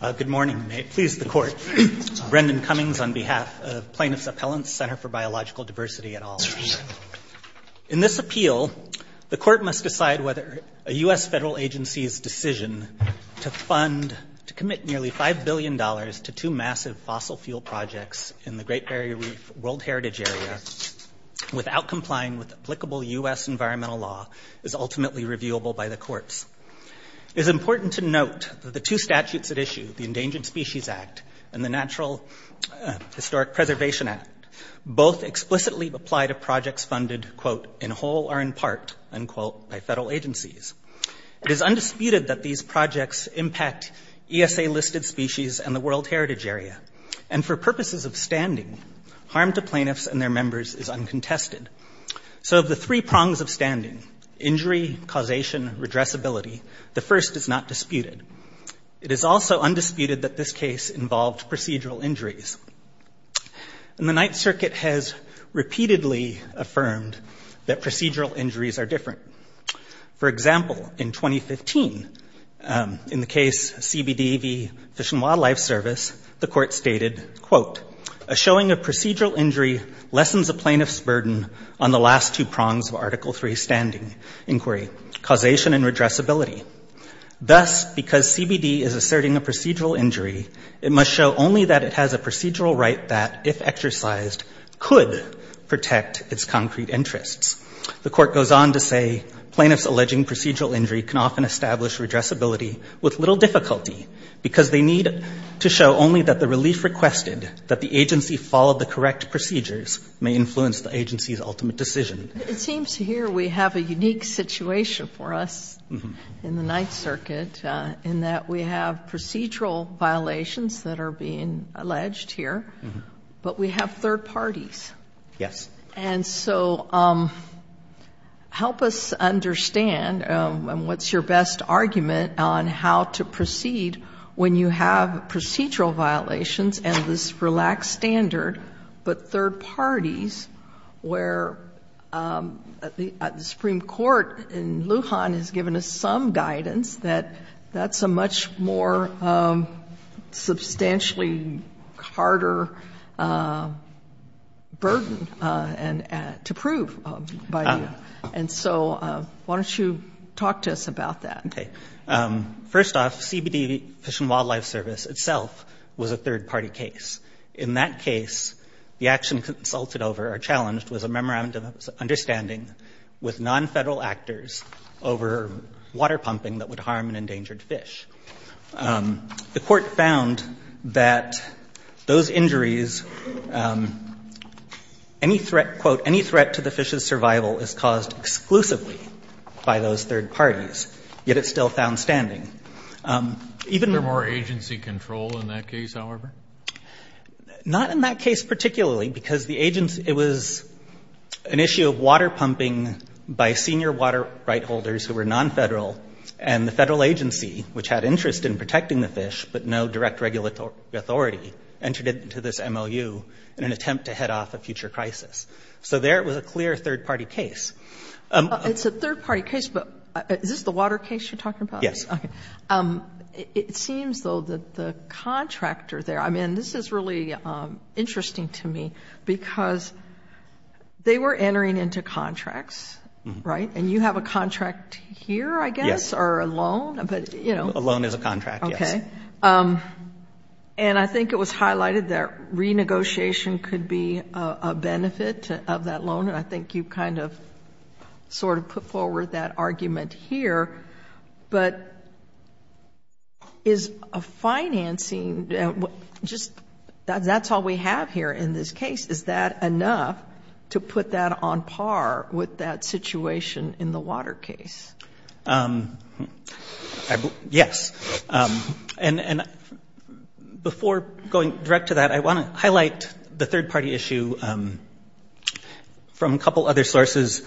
Good morning. May it please the Court, Brendan Cummings on behalf of Plaintiff's Appellant's Center for Biological Diversity et al. In this appeal, the Court must decide whether a U.S. federal agency's decision to fund, to commit nearly $5 billion to two massive fossil fuel projects in the Great Barrier Reef World Heritage Area without complying with applicable U.S. environmental law is ultimately reviewable by the courts. It is at issue, the Endangered Species Act and the Natural Historic Preservation Act, both explicitly apply to projects funded in whole or in part by federal agencies. It is undisputed that these projects impact ESA-listed species and the World Heritage Area, and for purposes of standing, harm to plaintiffs and their members is uncontested. So of the three prongs of standing—injury, causation, redressability—the first is not disputed. It is also undisputed that this case involved procedural injuries. And the Ninth Circuit has repeatedly affirmed that procedural injuries are different. For example, in 2015, in the case CBD v. Fish and Wildlife Service, the Court stated, quote, a showing of procedural injury lessens a plaintiff's burden on the last two prongs of Article III standing inquiry—causation and redressability. Thus, because CBD is asserting a procedural injury, it must show only that it has a procedural right that, if exercised, could protect its concrete interests. The Court goes on to say, plaintiffs alleging procedural injury can often establish redressability with little difficulty because they need to show only that the relief requested, that the agency followed the correct procedures, may influence the agency's ultimate decision. It seems here we have a unique situation for us in the Ninth Circuit, in that we have procedural violations that are being alleged here, but we have third parties. Yes. And so help us understand what's your best argument on how to proceed when you have procedural violations and this relaxed standard, but third parties, where the Supreme Court in Lujan has given us some guidance that that's a much more substantially harder burden to prove by you. And so why don't you talk to us about that? Okay. First off, CBD Fish and Wildlife Service itself was a third-party case. In that case, the action consulted over or challenged was a memorandum of understanding with non-federal actors over water pumping that would harm and endangered fish. The Court found that those injuries—any threat, quote, any threat to the fish's survival is caused exclusively by those third parties, yet it's still found standing. Is there more agency control in that case, however? Not in that case particularly, because the agency—it was an issue of water pumping by senior water right holders who were non-federal, and the federal agency, which had interest in protecting the fish, but no direct regulatory authority, entered into this MOU in an attempt to head off a future crisis. So there it was a clear third-party case. It's a third-party case, but is this the water case you're talking about? Yes. It seems, though, that the contractor there—I mean, this is really interesting to me, because they were entering into contracts, right? And you have a contract here, I guess, or a loan, but, you know— A loan is a contract, yes. Okay. And I think it was highlighted that renegotiation could be a benefit of that loan, and I think you kind of sort of put forward that argument here, but is a financing—just that's all we have here in this case. Is that enough to put that on par with that situation in the water case? Yes. And before going direct to that, I want to highlight the third-party issue from the from a couple other sources,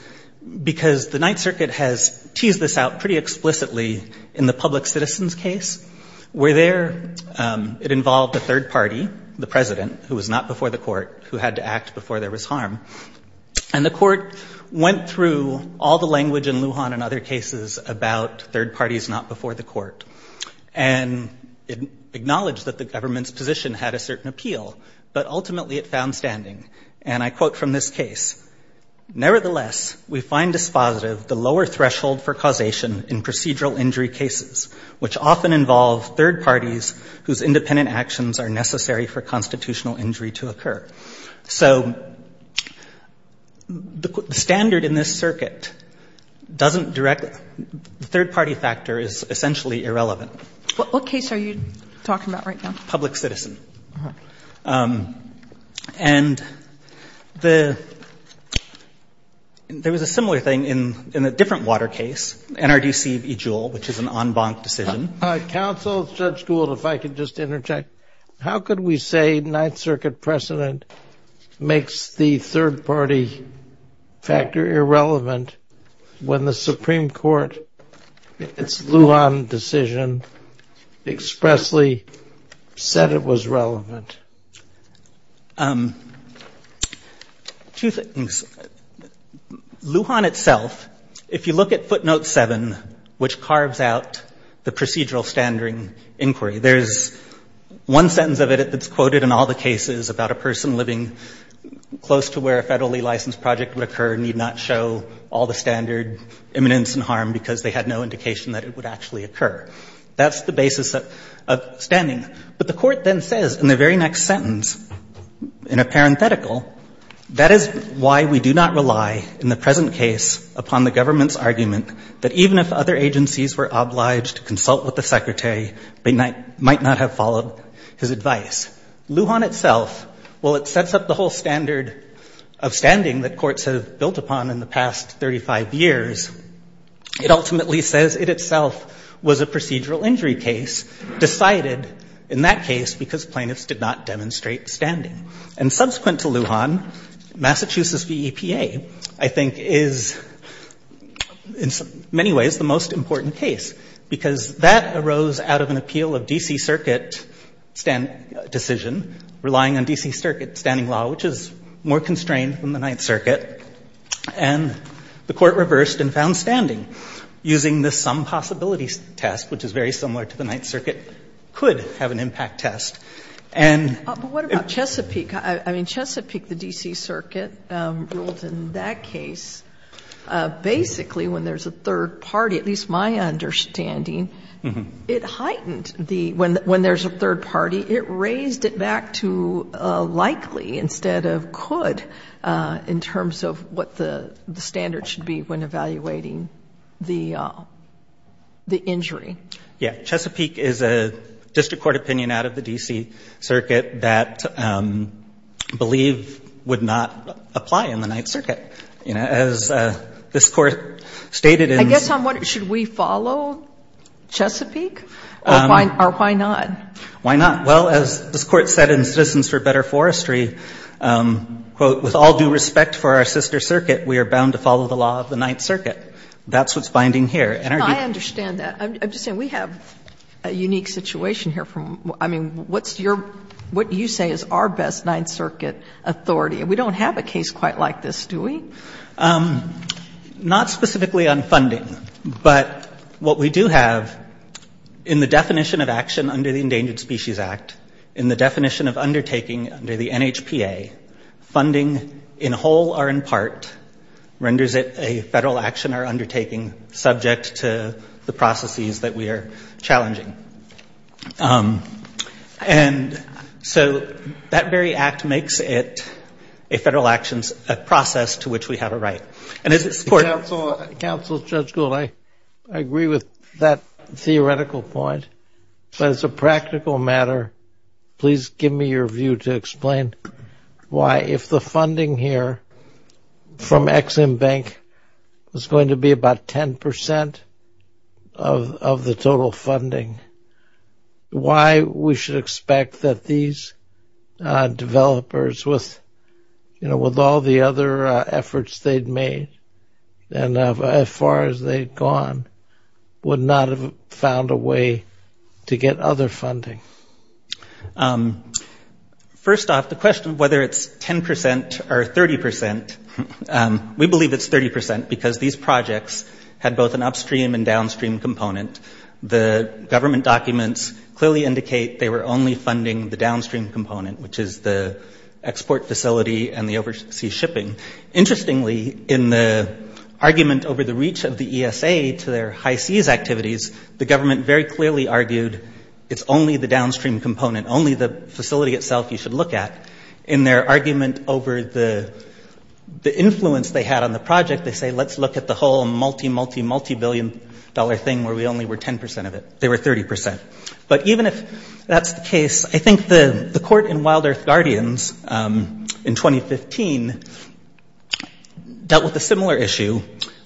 because the Ninth Circuit has teased this out pretty explicitly in the public citizens case, where there it involved a third party, the president, who was not before the court, who had to act before there was harm. And the court went through all the language in Lujan and other cases about third parties not before the court, and it acknowledged that the government's position had a certain appeal, but ultimately it found standing. And I quote from this case, Nevertheless, we find dispositive the lower threshold for causation in procedural injury cases, which often involve third parties whose independent actions are necessary for constitutional injury to occur. So the standard in this circuit doesn't direct—the third-party factor is essentially irrelevant. What case are you talking about right now? Public citizen. And there was a similar thing in a different water case, NRDC v. Jewell, which is an en banc decision. Counsel, Judge Gould, if I could just interject, how could we say Ninth Circuit precedent makes the third-party factor irrelevant when the Supreme Court, its Lujan decision, expressly said it was relevant? Two things. Lujan itself, if you look at footnote 7, which carves out the procedural standard inquiry, there's one sentence of it that's quoted in all the cases about a person living close to where a federally licensed project would occur need not show all the standard imminence and harm because they had no indication that it would actually occur. That's the court then says in the very next sentence, in a parenthetical, that is why we do not rely in the present case upon the government's argument that even if other agencies were obliged to consult with the secretary, they might not have followed his advice. Lujan itself, while it sets up the whole standard of standing that courts have built upon in the past 35 years, it ultimately says it itself was a procedural injury case decided in that case because plaintiffs did not demonstrate standing. And subsequent to Lujan, Massachusetts v. EPA, I think, is, in many ways, the most important case, because that arose out of an appeal of D.C. Circuit decision, relying on D.C. Circuit standing law, which is more constrained than the Ninth Circuit. And the Court reversed and found standing using this some-possibility test, which is very similar to the Ninth Circuit, could have an impact test. And ---- Sotomayor, but what about Chesapeake? I mean, Chesapeake, the D.C. Circuit ruled in that case, basically, when there's a third party, at least my understanding, it heightened the ---- when there's a third party, it raised it back to likely instead of could in terms of what the standard should be when evaluating the injury. Yeah. Chesapeake is a district court opinion out of the D.C. Circuit that I believe would not apply in the Ninth Circuit. You know, as this Court stated in ---- I guess I'm wondering, should we follow Chesapeake? Or why not? Why not? Well, as this Court said in Citizens for Better Forestry, quote, with all due respect for our sister circuit, we are bound to follow the law of the Ninth Circuit. That's what's binding here. I understand that. I'm just saying we have a unique situation here. I mean, what's your ---- what you say is our best Ninth Circuit authority? And we don't have a case quite like this, do we? Not specifically on funding, but what we do have in the definition of action under the Endangered Species Act, in the definition of undertaking under the NHPA, funding in whole or in part renders it a Federal action or undertaking subject to the NHPA's processes that we are challenging. And so that very act makes it a Federal action, a process to which we have a right. And as this Court ---- Counsel, Judge Gould, I agree with that theoretical point. But as a practical matter, please give me your view to explain why, if the funding here from Ex-Im Bank was going to be about 10 percent of the total funding, why we should expect that these developers with, you know, with all the other efforts they'd made and as far as they'd gone would not have found a way to get other funding. First off, the question of whether it's 10 percent or 30 percent, we believe it's 30 percent because these projects had both an upstream and downstream component. The government documents clearly indicate they were only funding the downstream component, which is the export facility and the overseas shipping. Interestingly, in the argument over the reach of the ESA to their high-seas activities, the government very clearly argued it's only the downstream component, only the facility itself you should look at. In their argument over the influence they had on the project, they say, let's look at the whole multi, multi, multibillion-dollar thing where we only were 10 percent of it. They were 30 percent. But even if that's the case, I think the Court in Wild Earth Guardians in 2015 dealt with a similar issue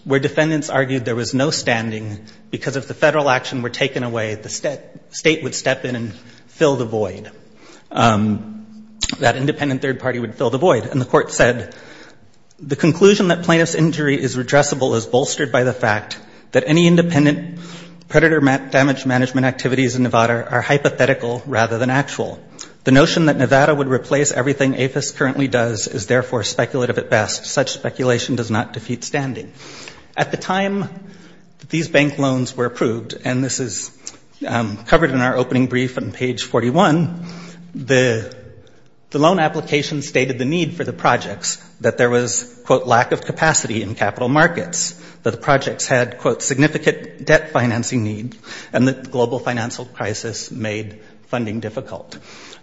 where defendants argued there was no standing because if the Federal action were taken away, the state would step in and fill the void, that independent third party would fill the void. And the Court said, the conclusion that plaintiff's injury is redressable is bolstered by the fact that any independent predator damage management activities in Nevada are hypothetical rather than actual. The notion that Nevada would replace everything APHIS currently does is therefore speculative at best. Such speculation does not defeat standing. At the time these bank loans were approved, and this is covered in our opening brief on page 41, the loan application stated the need for the projects, that there was, quote, lack of capacity in capital markets, that the projects had, quote, significant debt financing need, and that the global financial crisis made funding difficult.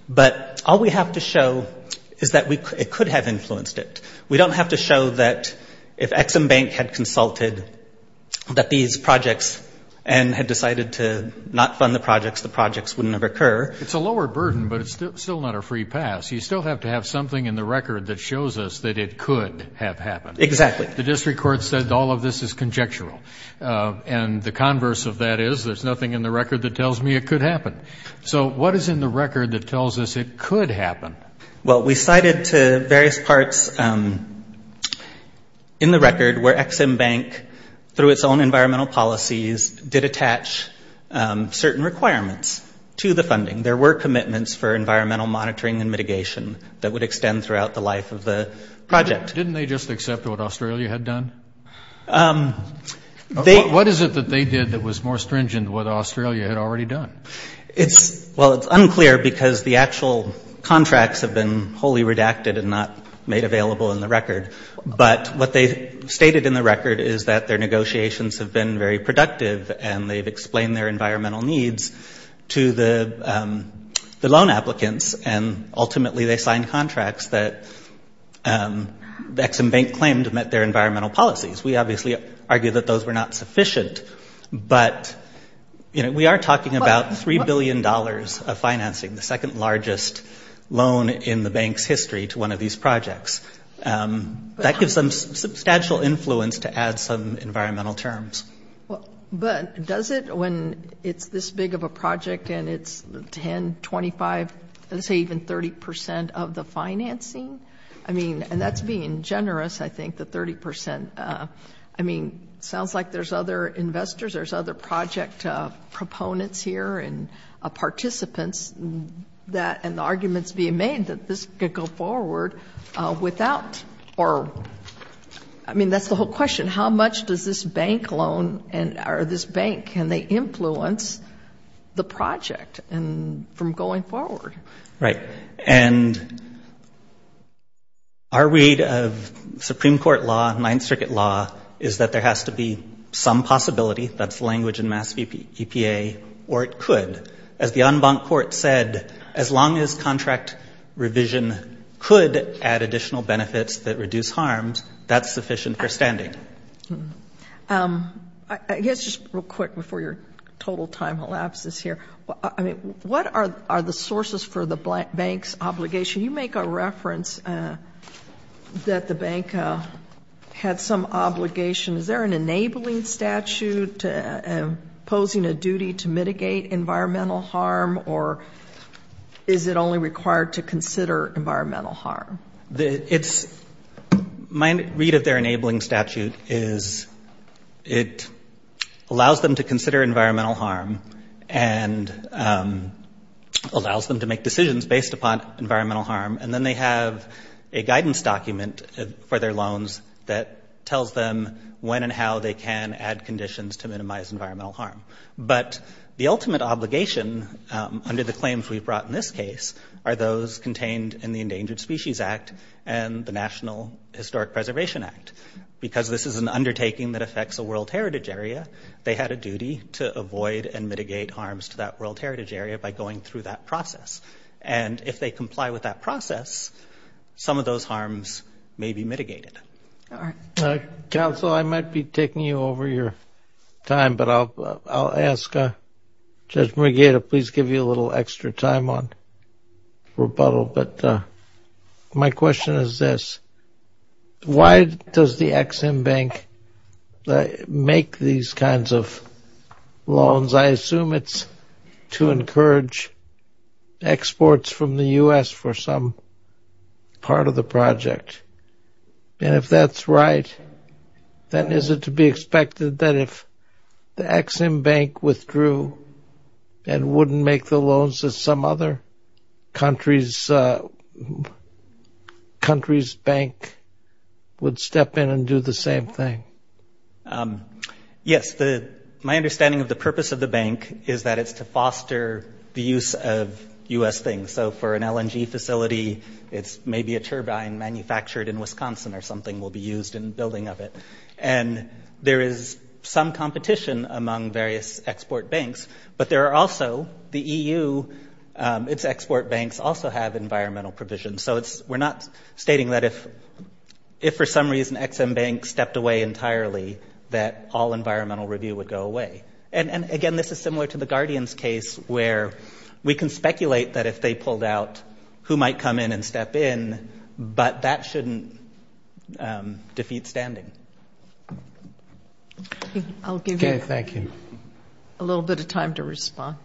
But all we have to show is that it could have influenced it. We don't have to show that if Ex-Im Bank had consulted that these projects and had decided to not fund the projects, the projects wouldn't have occurred. It's a lower burden, but it's still not a free pass. You still have to have something in the record that shows us that it could have happened. Exactly. The district court said all of this is conjectural. And the converse of that is there's nothing in the record that tells me it could happen. So what is in the record that tells us it could happen? Well, we cited to various parts in the record where Ex-Im Bank, through its own environmental policies, did attach certain requirements to the funding. There were commitments for environmental monitoring and mitigation that would extend throughout the life of the project. Didn't they just accept what Australia had done? What is it that they did that was more stringent than what Australia had already done? Well, it's unclear because the actual contracts have been wholly redacted and not made available in the record. But what they stated in the record is that their negotiations have been very productive and they've explained their environmental needs to the loan applicants and ultimately they signed contracts that Ex-Im Bank claimed met their environmental policies. We obviously argue that those were not sufficient. But, you know, we are talking about $3 billion of financing, the second largest loan in the bank's history to one of these projects. That gives them substantial influence to add some environmental terms. But does it, when it's this big of a project and it's 10, 25, let's say even 30 percent of the financing? I mean, and that's being generous, I think, the 30 percent. I mean, sounds like there's other investors, there's other project proponents here and participants and arguments being made that this could go forward without or, I mean, that's the whole question. How much does this bank loan or this bank, can they influence the project from going forward? Right. And our read of Supreme Court law, Ninth Circuit law, is that there has to be some possibility, that's the language in Mass EPA, or it could. As the en banc court said, as long as contract revision could add additional benefits that reduce harms, that's sufficient for standing. I guess just real quick before your total time elapses here, I mean, what are the sources for the bank's obligation? You make a reference that the bank had some obligation. Is there an enabling statute posing a duty to mitigate environmental harm or is it only required to consider environmental harm? My read of their enabling statute is it allows them to consider environmental harm and allows them to make decisions based upon environmental harm and then they have a guidance document for their loans that tells them when and how they can add conditions to minimize environmental harm. But the ultimate obligation under the claims we've brought in this case are those contained in the Endangered Species Act and the National Historic Preservation Act. Because this is an undertaking that affects a world heritage area, they had a duty to avoid and process. And if they comply with that process, some of those harms may be mitigated. Counsel, I might be taking you over your time, but I'll ask Judge Murgata, please give you a little extra time on rebuttal. But my question is this. Why does the Ex-Im Bank make these kinds of loans? I assume it's to encourage exports from the U.S. for some part of the project. And if that's right, then is it to be expected that if the Ex-Im Bank withdrew and wouldn't make the loans that some other country's bank would step in and do the same thing? Yes. My understanding of the purpose of the bank is that it's to foster the use of U.S. things. So for an LNG facility, it's maybe a turbine manufactured in Wisconsin or something will be used in building of it. And there is some competition among various export banks, but there are also the EU, its export banks also have environmental provisions. So we're not stating that if for some reason Ex-Im Bank stepped away entirely, that all environmental review would go away. And again, this is similar to the Guardian's case where we can speculate that if they pulled out, who might come in and step in, but that shouldn't defeat standing. I'll give you a little bit of time to respond.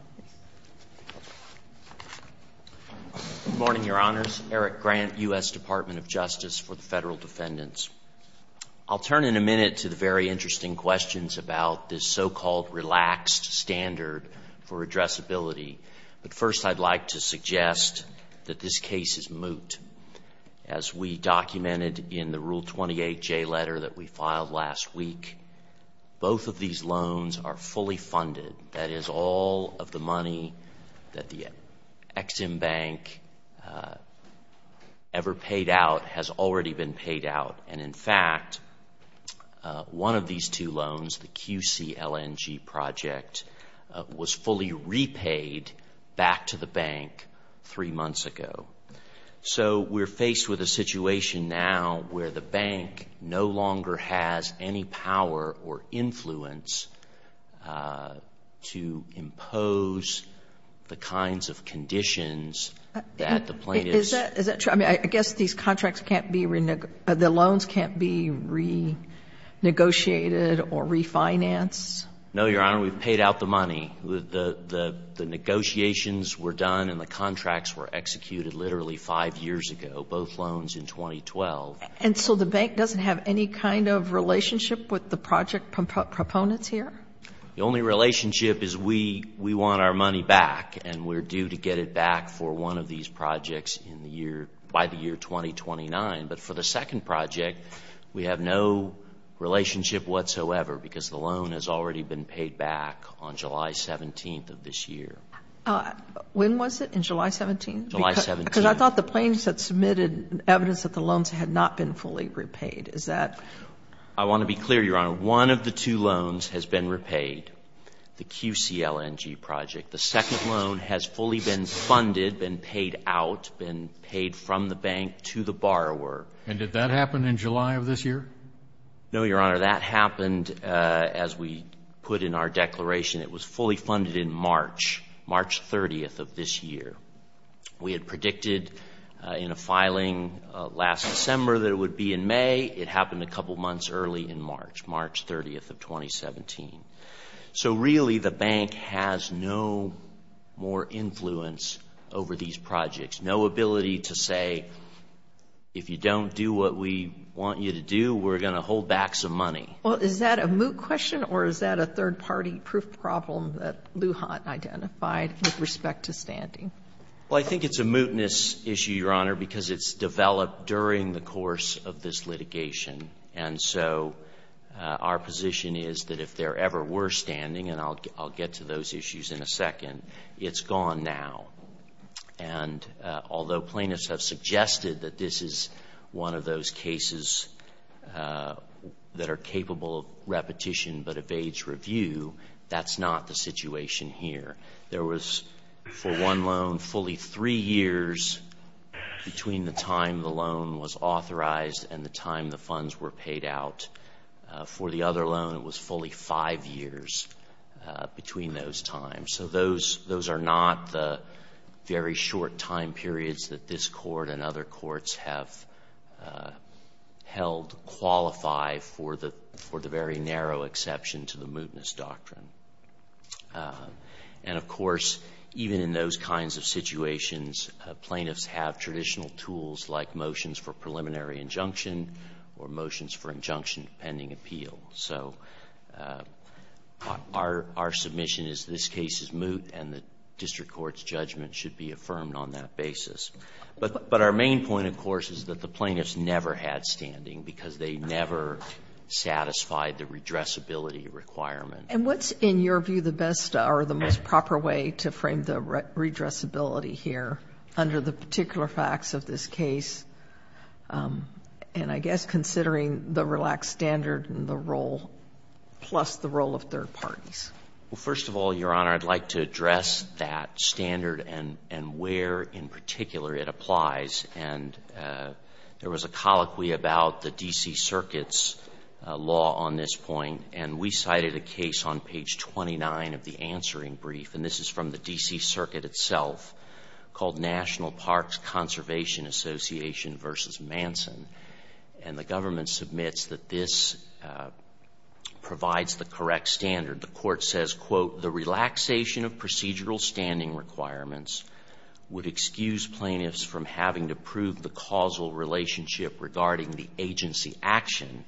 Good morning, Your Honors. Eric Grant, U.S. Department of Justice for the Federal Defendants. I'll turn in a minute to the very interesting questions about this so-called relaxed standard for addressability. But first, I'd like to suggest that this case is moot. As we documented in the Rule 28J letter that we filed last week, both of these loans are fully funded. That is all of the money that the Ex-Im Bank ever paid out has already been paid out. And in fact, one of these two loans, the QCLNG project, was fully repaid back to the bank three months ago. So we're faced with a situation now where the bank no longer has any power or influence to impose the kinds of conditions that the plaintiff's Is that true? I mean, I guess these contracts can't be renegotiated, the loans can't be renegotiated or refinanced? No, Your Honor. We've paid out the money. The negotiations were done and the contracts were executed literally five years ago, both loans in 2012. And so the bank doesn't have any kind of relationship with the project proponents here? The only relationship is we want our money back and we're due to get it back for one of these projects by the year 2029. But for the second project, we have no relationship whatsoever because the loan has already been paid back on July 17th of this year. When was it? In July 17th? July 17th. Because I thought the plaintiffs had submitted evidence that the loans had not been fully repaid. Is that? I want to be clear, Your Honor. One of the two loans has been repaid, the QCLNG project. The second loan has fully been funded, been paid out, been paid from the bank to the borrower. And did that happen in July of this year? No, Your Honor. That happened as we put in our declaration. It was fully funded in March, March 30th of this year. We had predicted in a filing last December that it would be in May. It happened a couple months early in March, March 30th of 2017. So really the bank has no more influence over these projects, no ability to say, if you don't do what we want you to do, we're going to hold back some money. Is that a moot question or is that a third-party proof problem that Lujan identified with respect to standing? Well, I think it's a mootness issue, Your Honor, because it's developed during the course of this litigation. And so our position is that if there ever were standing, and I'll get to those issues in a second, it's gone now. And although plaintiffs have suggested that this is one of those cases that are capable of repetition but evades review, that's not the situation here. There was, for one loan, fully three years between the time the loan was authorized and the time the funds were paid out. For the other loan, it was fully five years between those times. So those are not the very short time periods that this Court's have held qualify for the very narrow exception to the mootness doctrine. And of course, even in those kinds of situations, plaintiffs have traditional tools like motions for preliminary injunction or motions for injunction pending appeal. So our submission is this case is moot and the district court's judgment should be affirmed on that basis. But our main point, of course, is that the plaintiffs never had standing because they never satisfied the redressability requirement. And what's, in your view, the best or the most proper way to frame the redressability here under the particular facts of this case, and I guess considering the relaxed standard and the role, plus the role of third parties? Well, first of all, Your Honor, I'd like to address that standard and where, in particular, it applies. And there was a colloquy about the D.C. Circuit's law on this point, and we cited a case on page 29 of the answering brief, and this is from the D.C. Circuit itself, called National Parks Conservation Association v. Manson. And the government submits that this provides the correct standard. The Court says, quote, the relaxation of procedural standing requirements would excuse plaintiffs from having to prove the causal relationship regarding the agency action,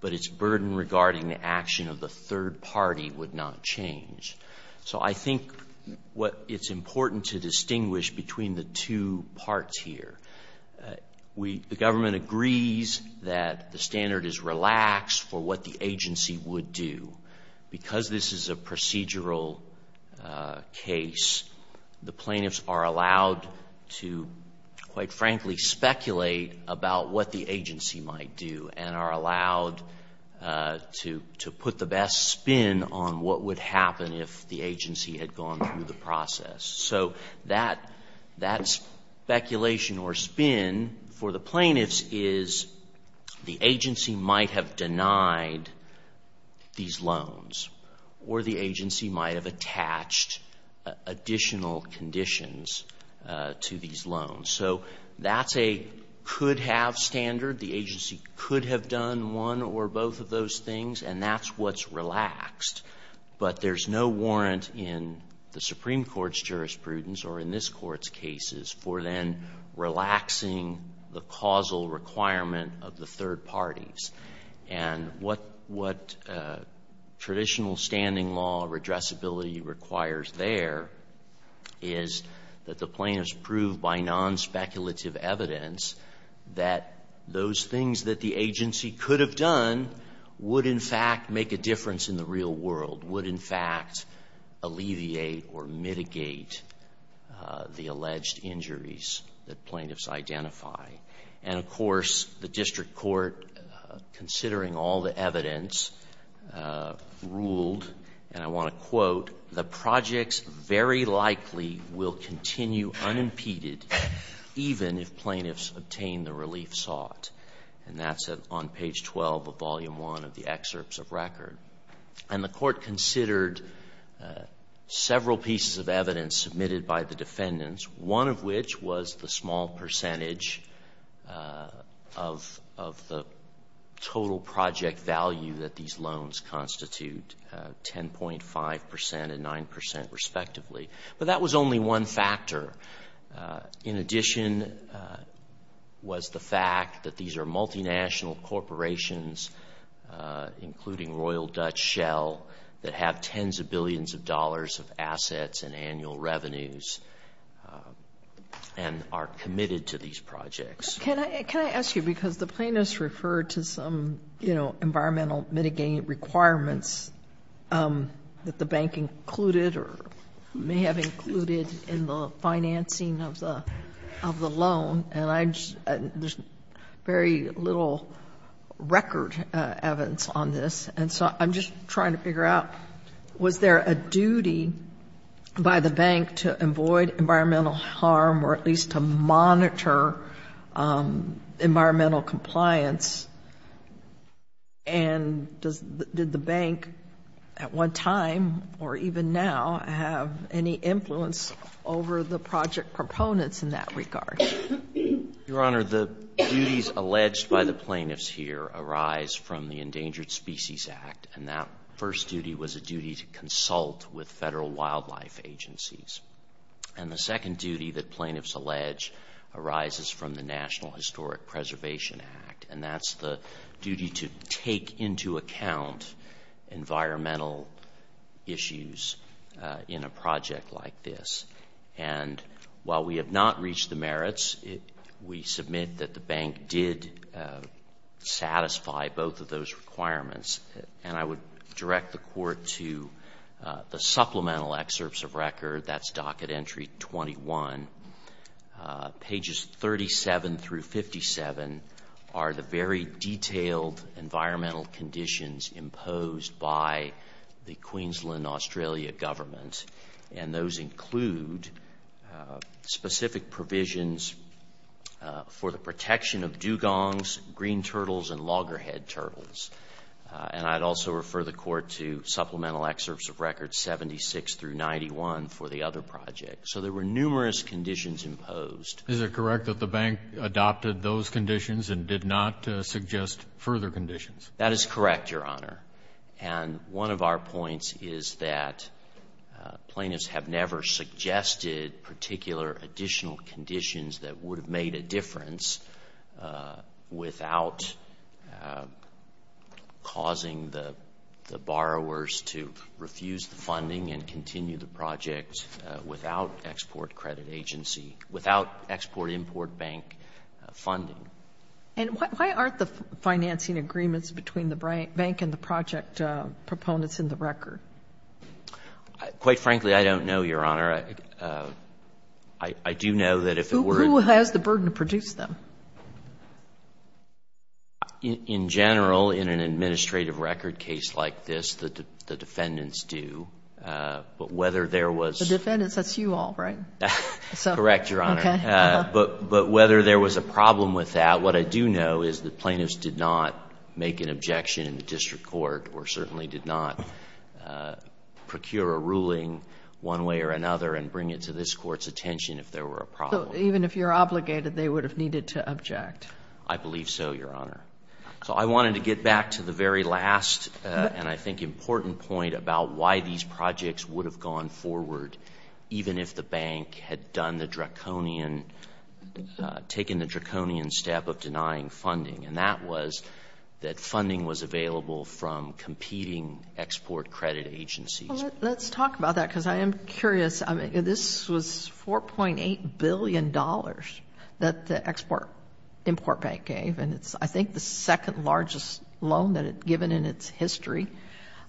but its burden regarding the action of the third party would not change. So I think what it's important to distinguish between the two parts here, the government agrees that the standard is relaxed for what the agency would do. Because this is a procedural case, the plaintiffs are allowed to, quite frankly, speculate about what the agency might do and are allowed to put the best spin on what would happen if the agency had gone through the process. So that speculation or spin for the plaintiffs is the agency might have denied these loans, or the agency might have attached additional conditions to these loans. So that's a could-have standard. The agency could have done one or both of those things, and that's what's relaxed. But there's no warrant in the Supreme Court's jurisprudence or in this Court's cases for then relaxing the causal requirement of the third parties. And what traditional standing law redressability requires there is that the plaintiffs prove by nonspeculative evidence that those things that the agency could have done would in fact make a difference in the real world, would in fact alleviate or mitigate the alleged injuries that plaintiffs identify. And of course, the district court, considering all the evidence, ruled, and I want to quote, the projects very likely will continue unimpeded even if plaintiffs obtain the relief sought. And that's on page 12 of volume 1 of the excerpts of record. And the court considered several pieces of evidence submitted by the defendants, one of which was the small percentage of the total project value that these loans constitute, 10.5 percent and 9 percent respectively. But that was only one factor. In addition was the fact that these are multinational corporations, including Royal Dutch Shell, that have tens of billions of dollars of assets and annual revenues and are committed to these projects. Can I ask you, because the plaintiffs referred to some, you know, environmental mitigating requirements that the bank included or may have included in the financing of the loan. And there's very little record evidence on this. And so I'm just trying to figure out, was there a duty by the bank to avoid environmental harm or at least to monitor environmental compliance? And did the bank at one time or even now have any influence over the project proponents in that regard? Your Honor, the duties alleged by the plaintiffs here arise from the Endangered Species Act. And that first duty was a duty to consult with federal wildlife agencies. And the second duty that plaintiffs allege arises from the National Historic Preservation Act. And that's the duty to take into account environmental issues in a project like this. And while the have not reached the merits, we submit that the bank did satisfy both of those requirements. And I would direct the Court to the supplemental excerpts of record. That's Docket Entry 21. Pages 37 through 57 are the very detailed environmental conditions imposed by the Queensland and Australia government. And those include specific provisions for the protection of dugongs, green turtles, and loggerhead turtles. And I'd also refer the Court to supplemental excerpts of record 76 through 91 for the other project. So there were numerous conditions imposed. Is it correct that the bank adopted those conditions and did not suggest further conditions? That is correct, Your Honor. And one of our points is that plaintiffs have never suggested particular additional conditions that would have made a difference without causing the borrowers to refuse the funding and continue the project without export credit agency, without export-import bank funding. And why aren't the financing agreements between the bank and the project proponents in the record? Quite frankly, I don't know, Your Honor. I do know that if it weren't... Who has the burden to produce them? In general, in an administrative record case like this, the defendants do. But whether there was... The defendants, that's you all, right? Correct, Your Honor. But whether there was a problem with that, what I do know is that plaintiffs did not make an objection in the district court or certainly did not procure a ruling one way or another and bring it to this Court's attention if there were a problem. Even if you're obligated, they would have needed to object? I believe so, Your Honor. So I wanted to get back to the very last and I think important point about why these projects would have gone forward even if the bank had done the draconian, taken the draconian step of denying funding. And that was that funding was available from competing export credit agencies. Let's talk about that because I am curious. This was $4.8 billion that the export-import bank gave, and it's, I think, the second largest loan that it's given in its history.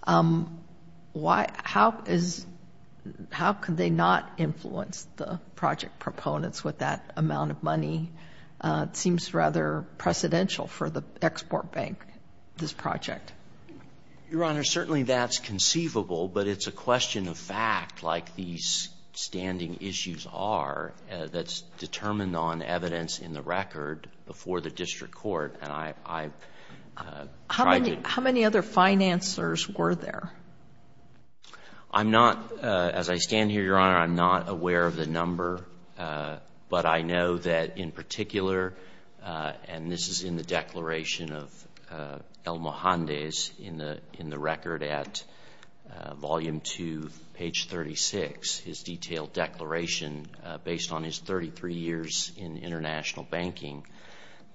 Why — how is — how could they not influence the project proponents with that amount of money? It seems rather precedential for the export bank, this project. Your Honor, certainly that's conceivable, but it's a question of fact, like these standing issues are, that's determined on evidence in the record before the district court. And I've tried to — How many other financers were there? I'm not — as I stand here, Your Honor, I'm not aware of the number, but I know that in particular — and this is in the declaration of El Mojande's in the record at volume two, page 36, his detailed declaration based on his 33 years in international banking,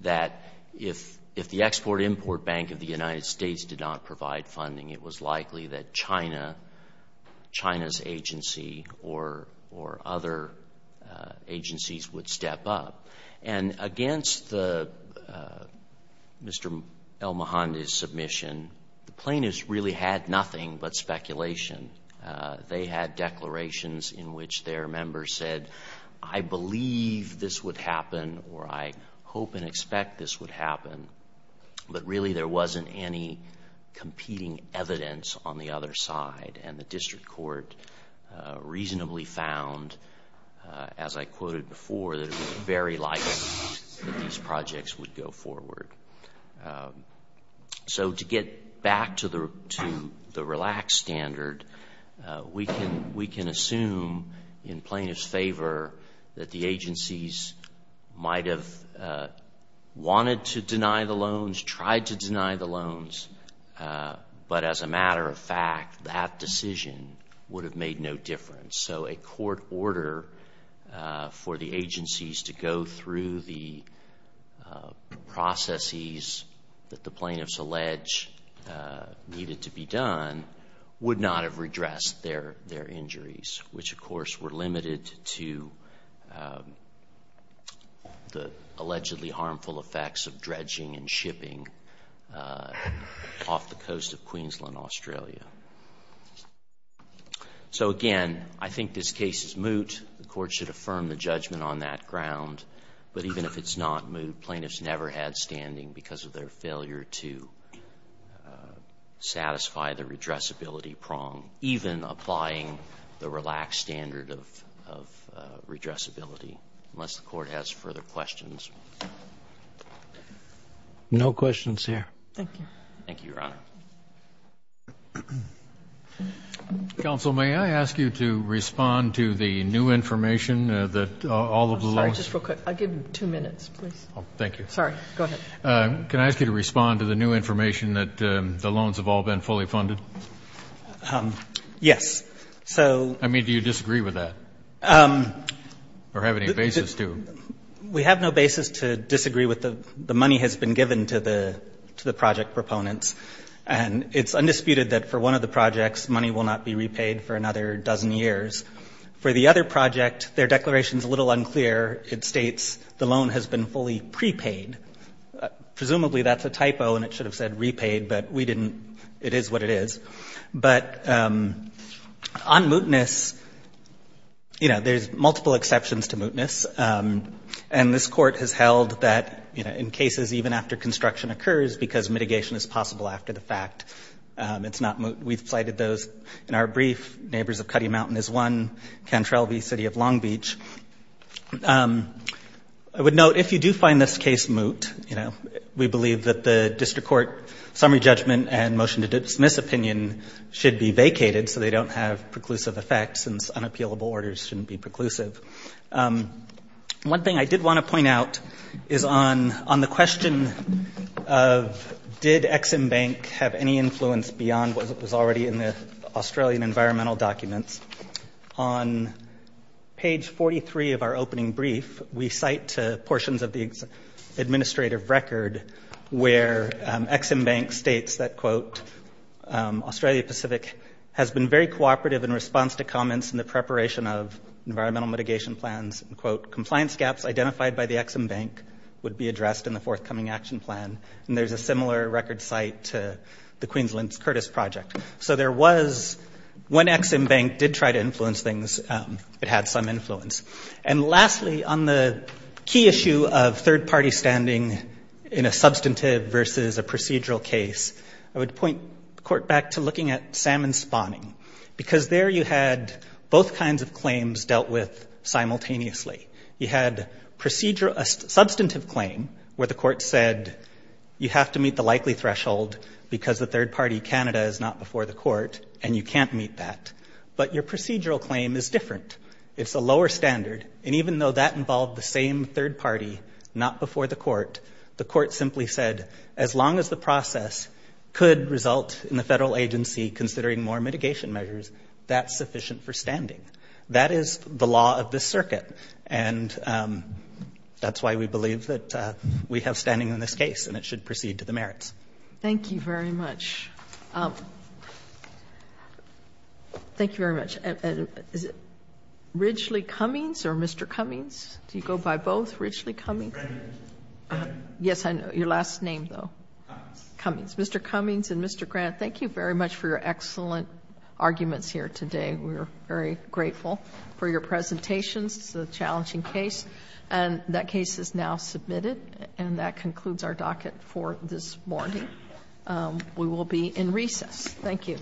that if the export-import bank of the United States did not provide funding, it was likely that China, China's agency or other agencies would step up. And against the — Mr. El Mojande's submission, the plaintiffs really had nothing but speculation They had declarations in which their members said, I believe this would happen or I hope and expect this would happen, but really there wasn't any competing evidence on the other side. And the district court reasonably found, as I quoted before, that it was very likely that these projects would go forward. So, to get back to the relaxed standard, we can assume in plaintiffs' favor that the agencies might have wanted to deny the loans, tried to deny the loans, but as a matter of fact, that decision would have made no difference. So, a court order for the agencies to go through the processes that the plaintiffs allege needed to be done would not have redressed their injuries, which, of course, were limited to the allegedly harmful effects of dredging and shipping off the coast of Queensland, Australia. So again, I think this case is moot. The court should affirm the judgment on that ground. But even if it's not moot, plaintiffs never had standing because of their failure to satisfy the redressability prong, even applying the relaxed standard of redressability, unless the court has further questions. No questions here. Thank you. Thank you, Your Honor. Counsel, may I ask you to respond to the new information that all of the loans have been fully funded? Yes. I mean, do you disagree with that? Or have any basis to? We have no basis to disagree with the money that has been given to the project proponents. And it's undisputed that for one of the projects, money will not be repaid for another dozen years. For the other project, their declaration is a little unclear. It says that the loan has been fully prepaid. Presumably that's a typo and it should have said repaid, but we didn't. It is what it is. But on mootness, you know, there's multiple exceptions to mootness. And this court has held that, you know, in cases even after construction occurs, because mitigation is possible after the fact, it's not moot. We've cited those in our brief. Neighbors of Cutty Mountain is one, Cantrell v. City of Long Beach. I would note, if you do find this case moot, you know, we believe that the district court summary judgment and motion to dismiss opinion should be vacated so they don't have preclusive effects since unappealable orders shouldn't be preclusive. One thing I did want to point out is on the question of did Ex-Im Bank have any influence beyond what was already in the Australian environmental documents, on page 43 of our opening brief, we cite portions of the administrative record where Ex-Im Bank states that, quote, Australia Pacific has been very cooperative in response to comments in the preparation of environmental mitigation plans, and, quote, compliance gaps identified by the Ex-Im Bank would be addressed in the forthcoming action plan. And there's a similar record cite to the Queensland's Curtis Project. So there was, when Ex-Im Bank did try to influence things, it had some influence. And lastly, on the key issue of third-party standing in a substantive versus a procedural case, I would point the court back to looking at salmon spawning, because there you had both kinds of claims dealt with simultaneously. You had a substantive claim where the court said, you have to meet the likely threshold because the third-party Canada is not before the court, and you can't meet that. But your procedural claim is different. It's a lower standard. And even though that involved the same third-party not before the court, the court simply said, as long as the process could result in the federal agency considering it, that is the law of this circuit. And that's why we believe that we have standing in this case, and it should proceed to the merits. Thank you very much. Thank you very much. And is it Ridgely Cummings or Mr. Cummings? Do you go by both, Ridgely Cummings? Cummings. Yes, I know. Your last name, though. Cummings. Cummings. Mr. Cummings and Mr. Grant, thank you very much for your excellent arguments here today. We are very grateful for your presentations. It's a challenging case. And that case is now submitted, and that concludes our docket for this morning. We will be in recess. Thank you.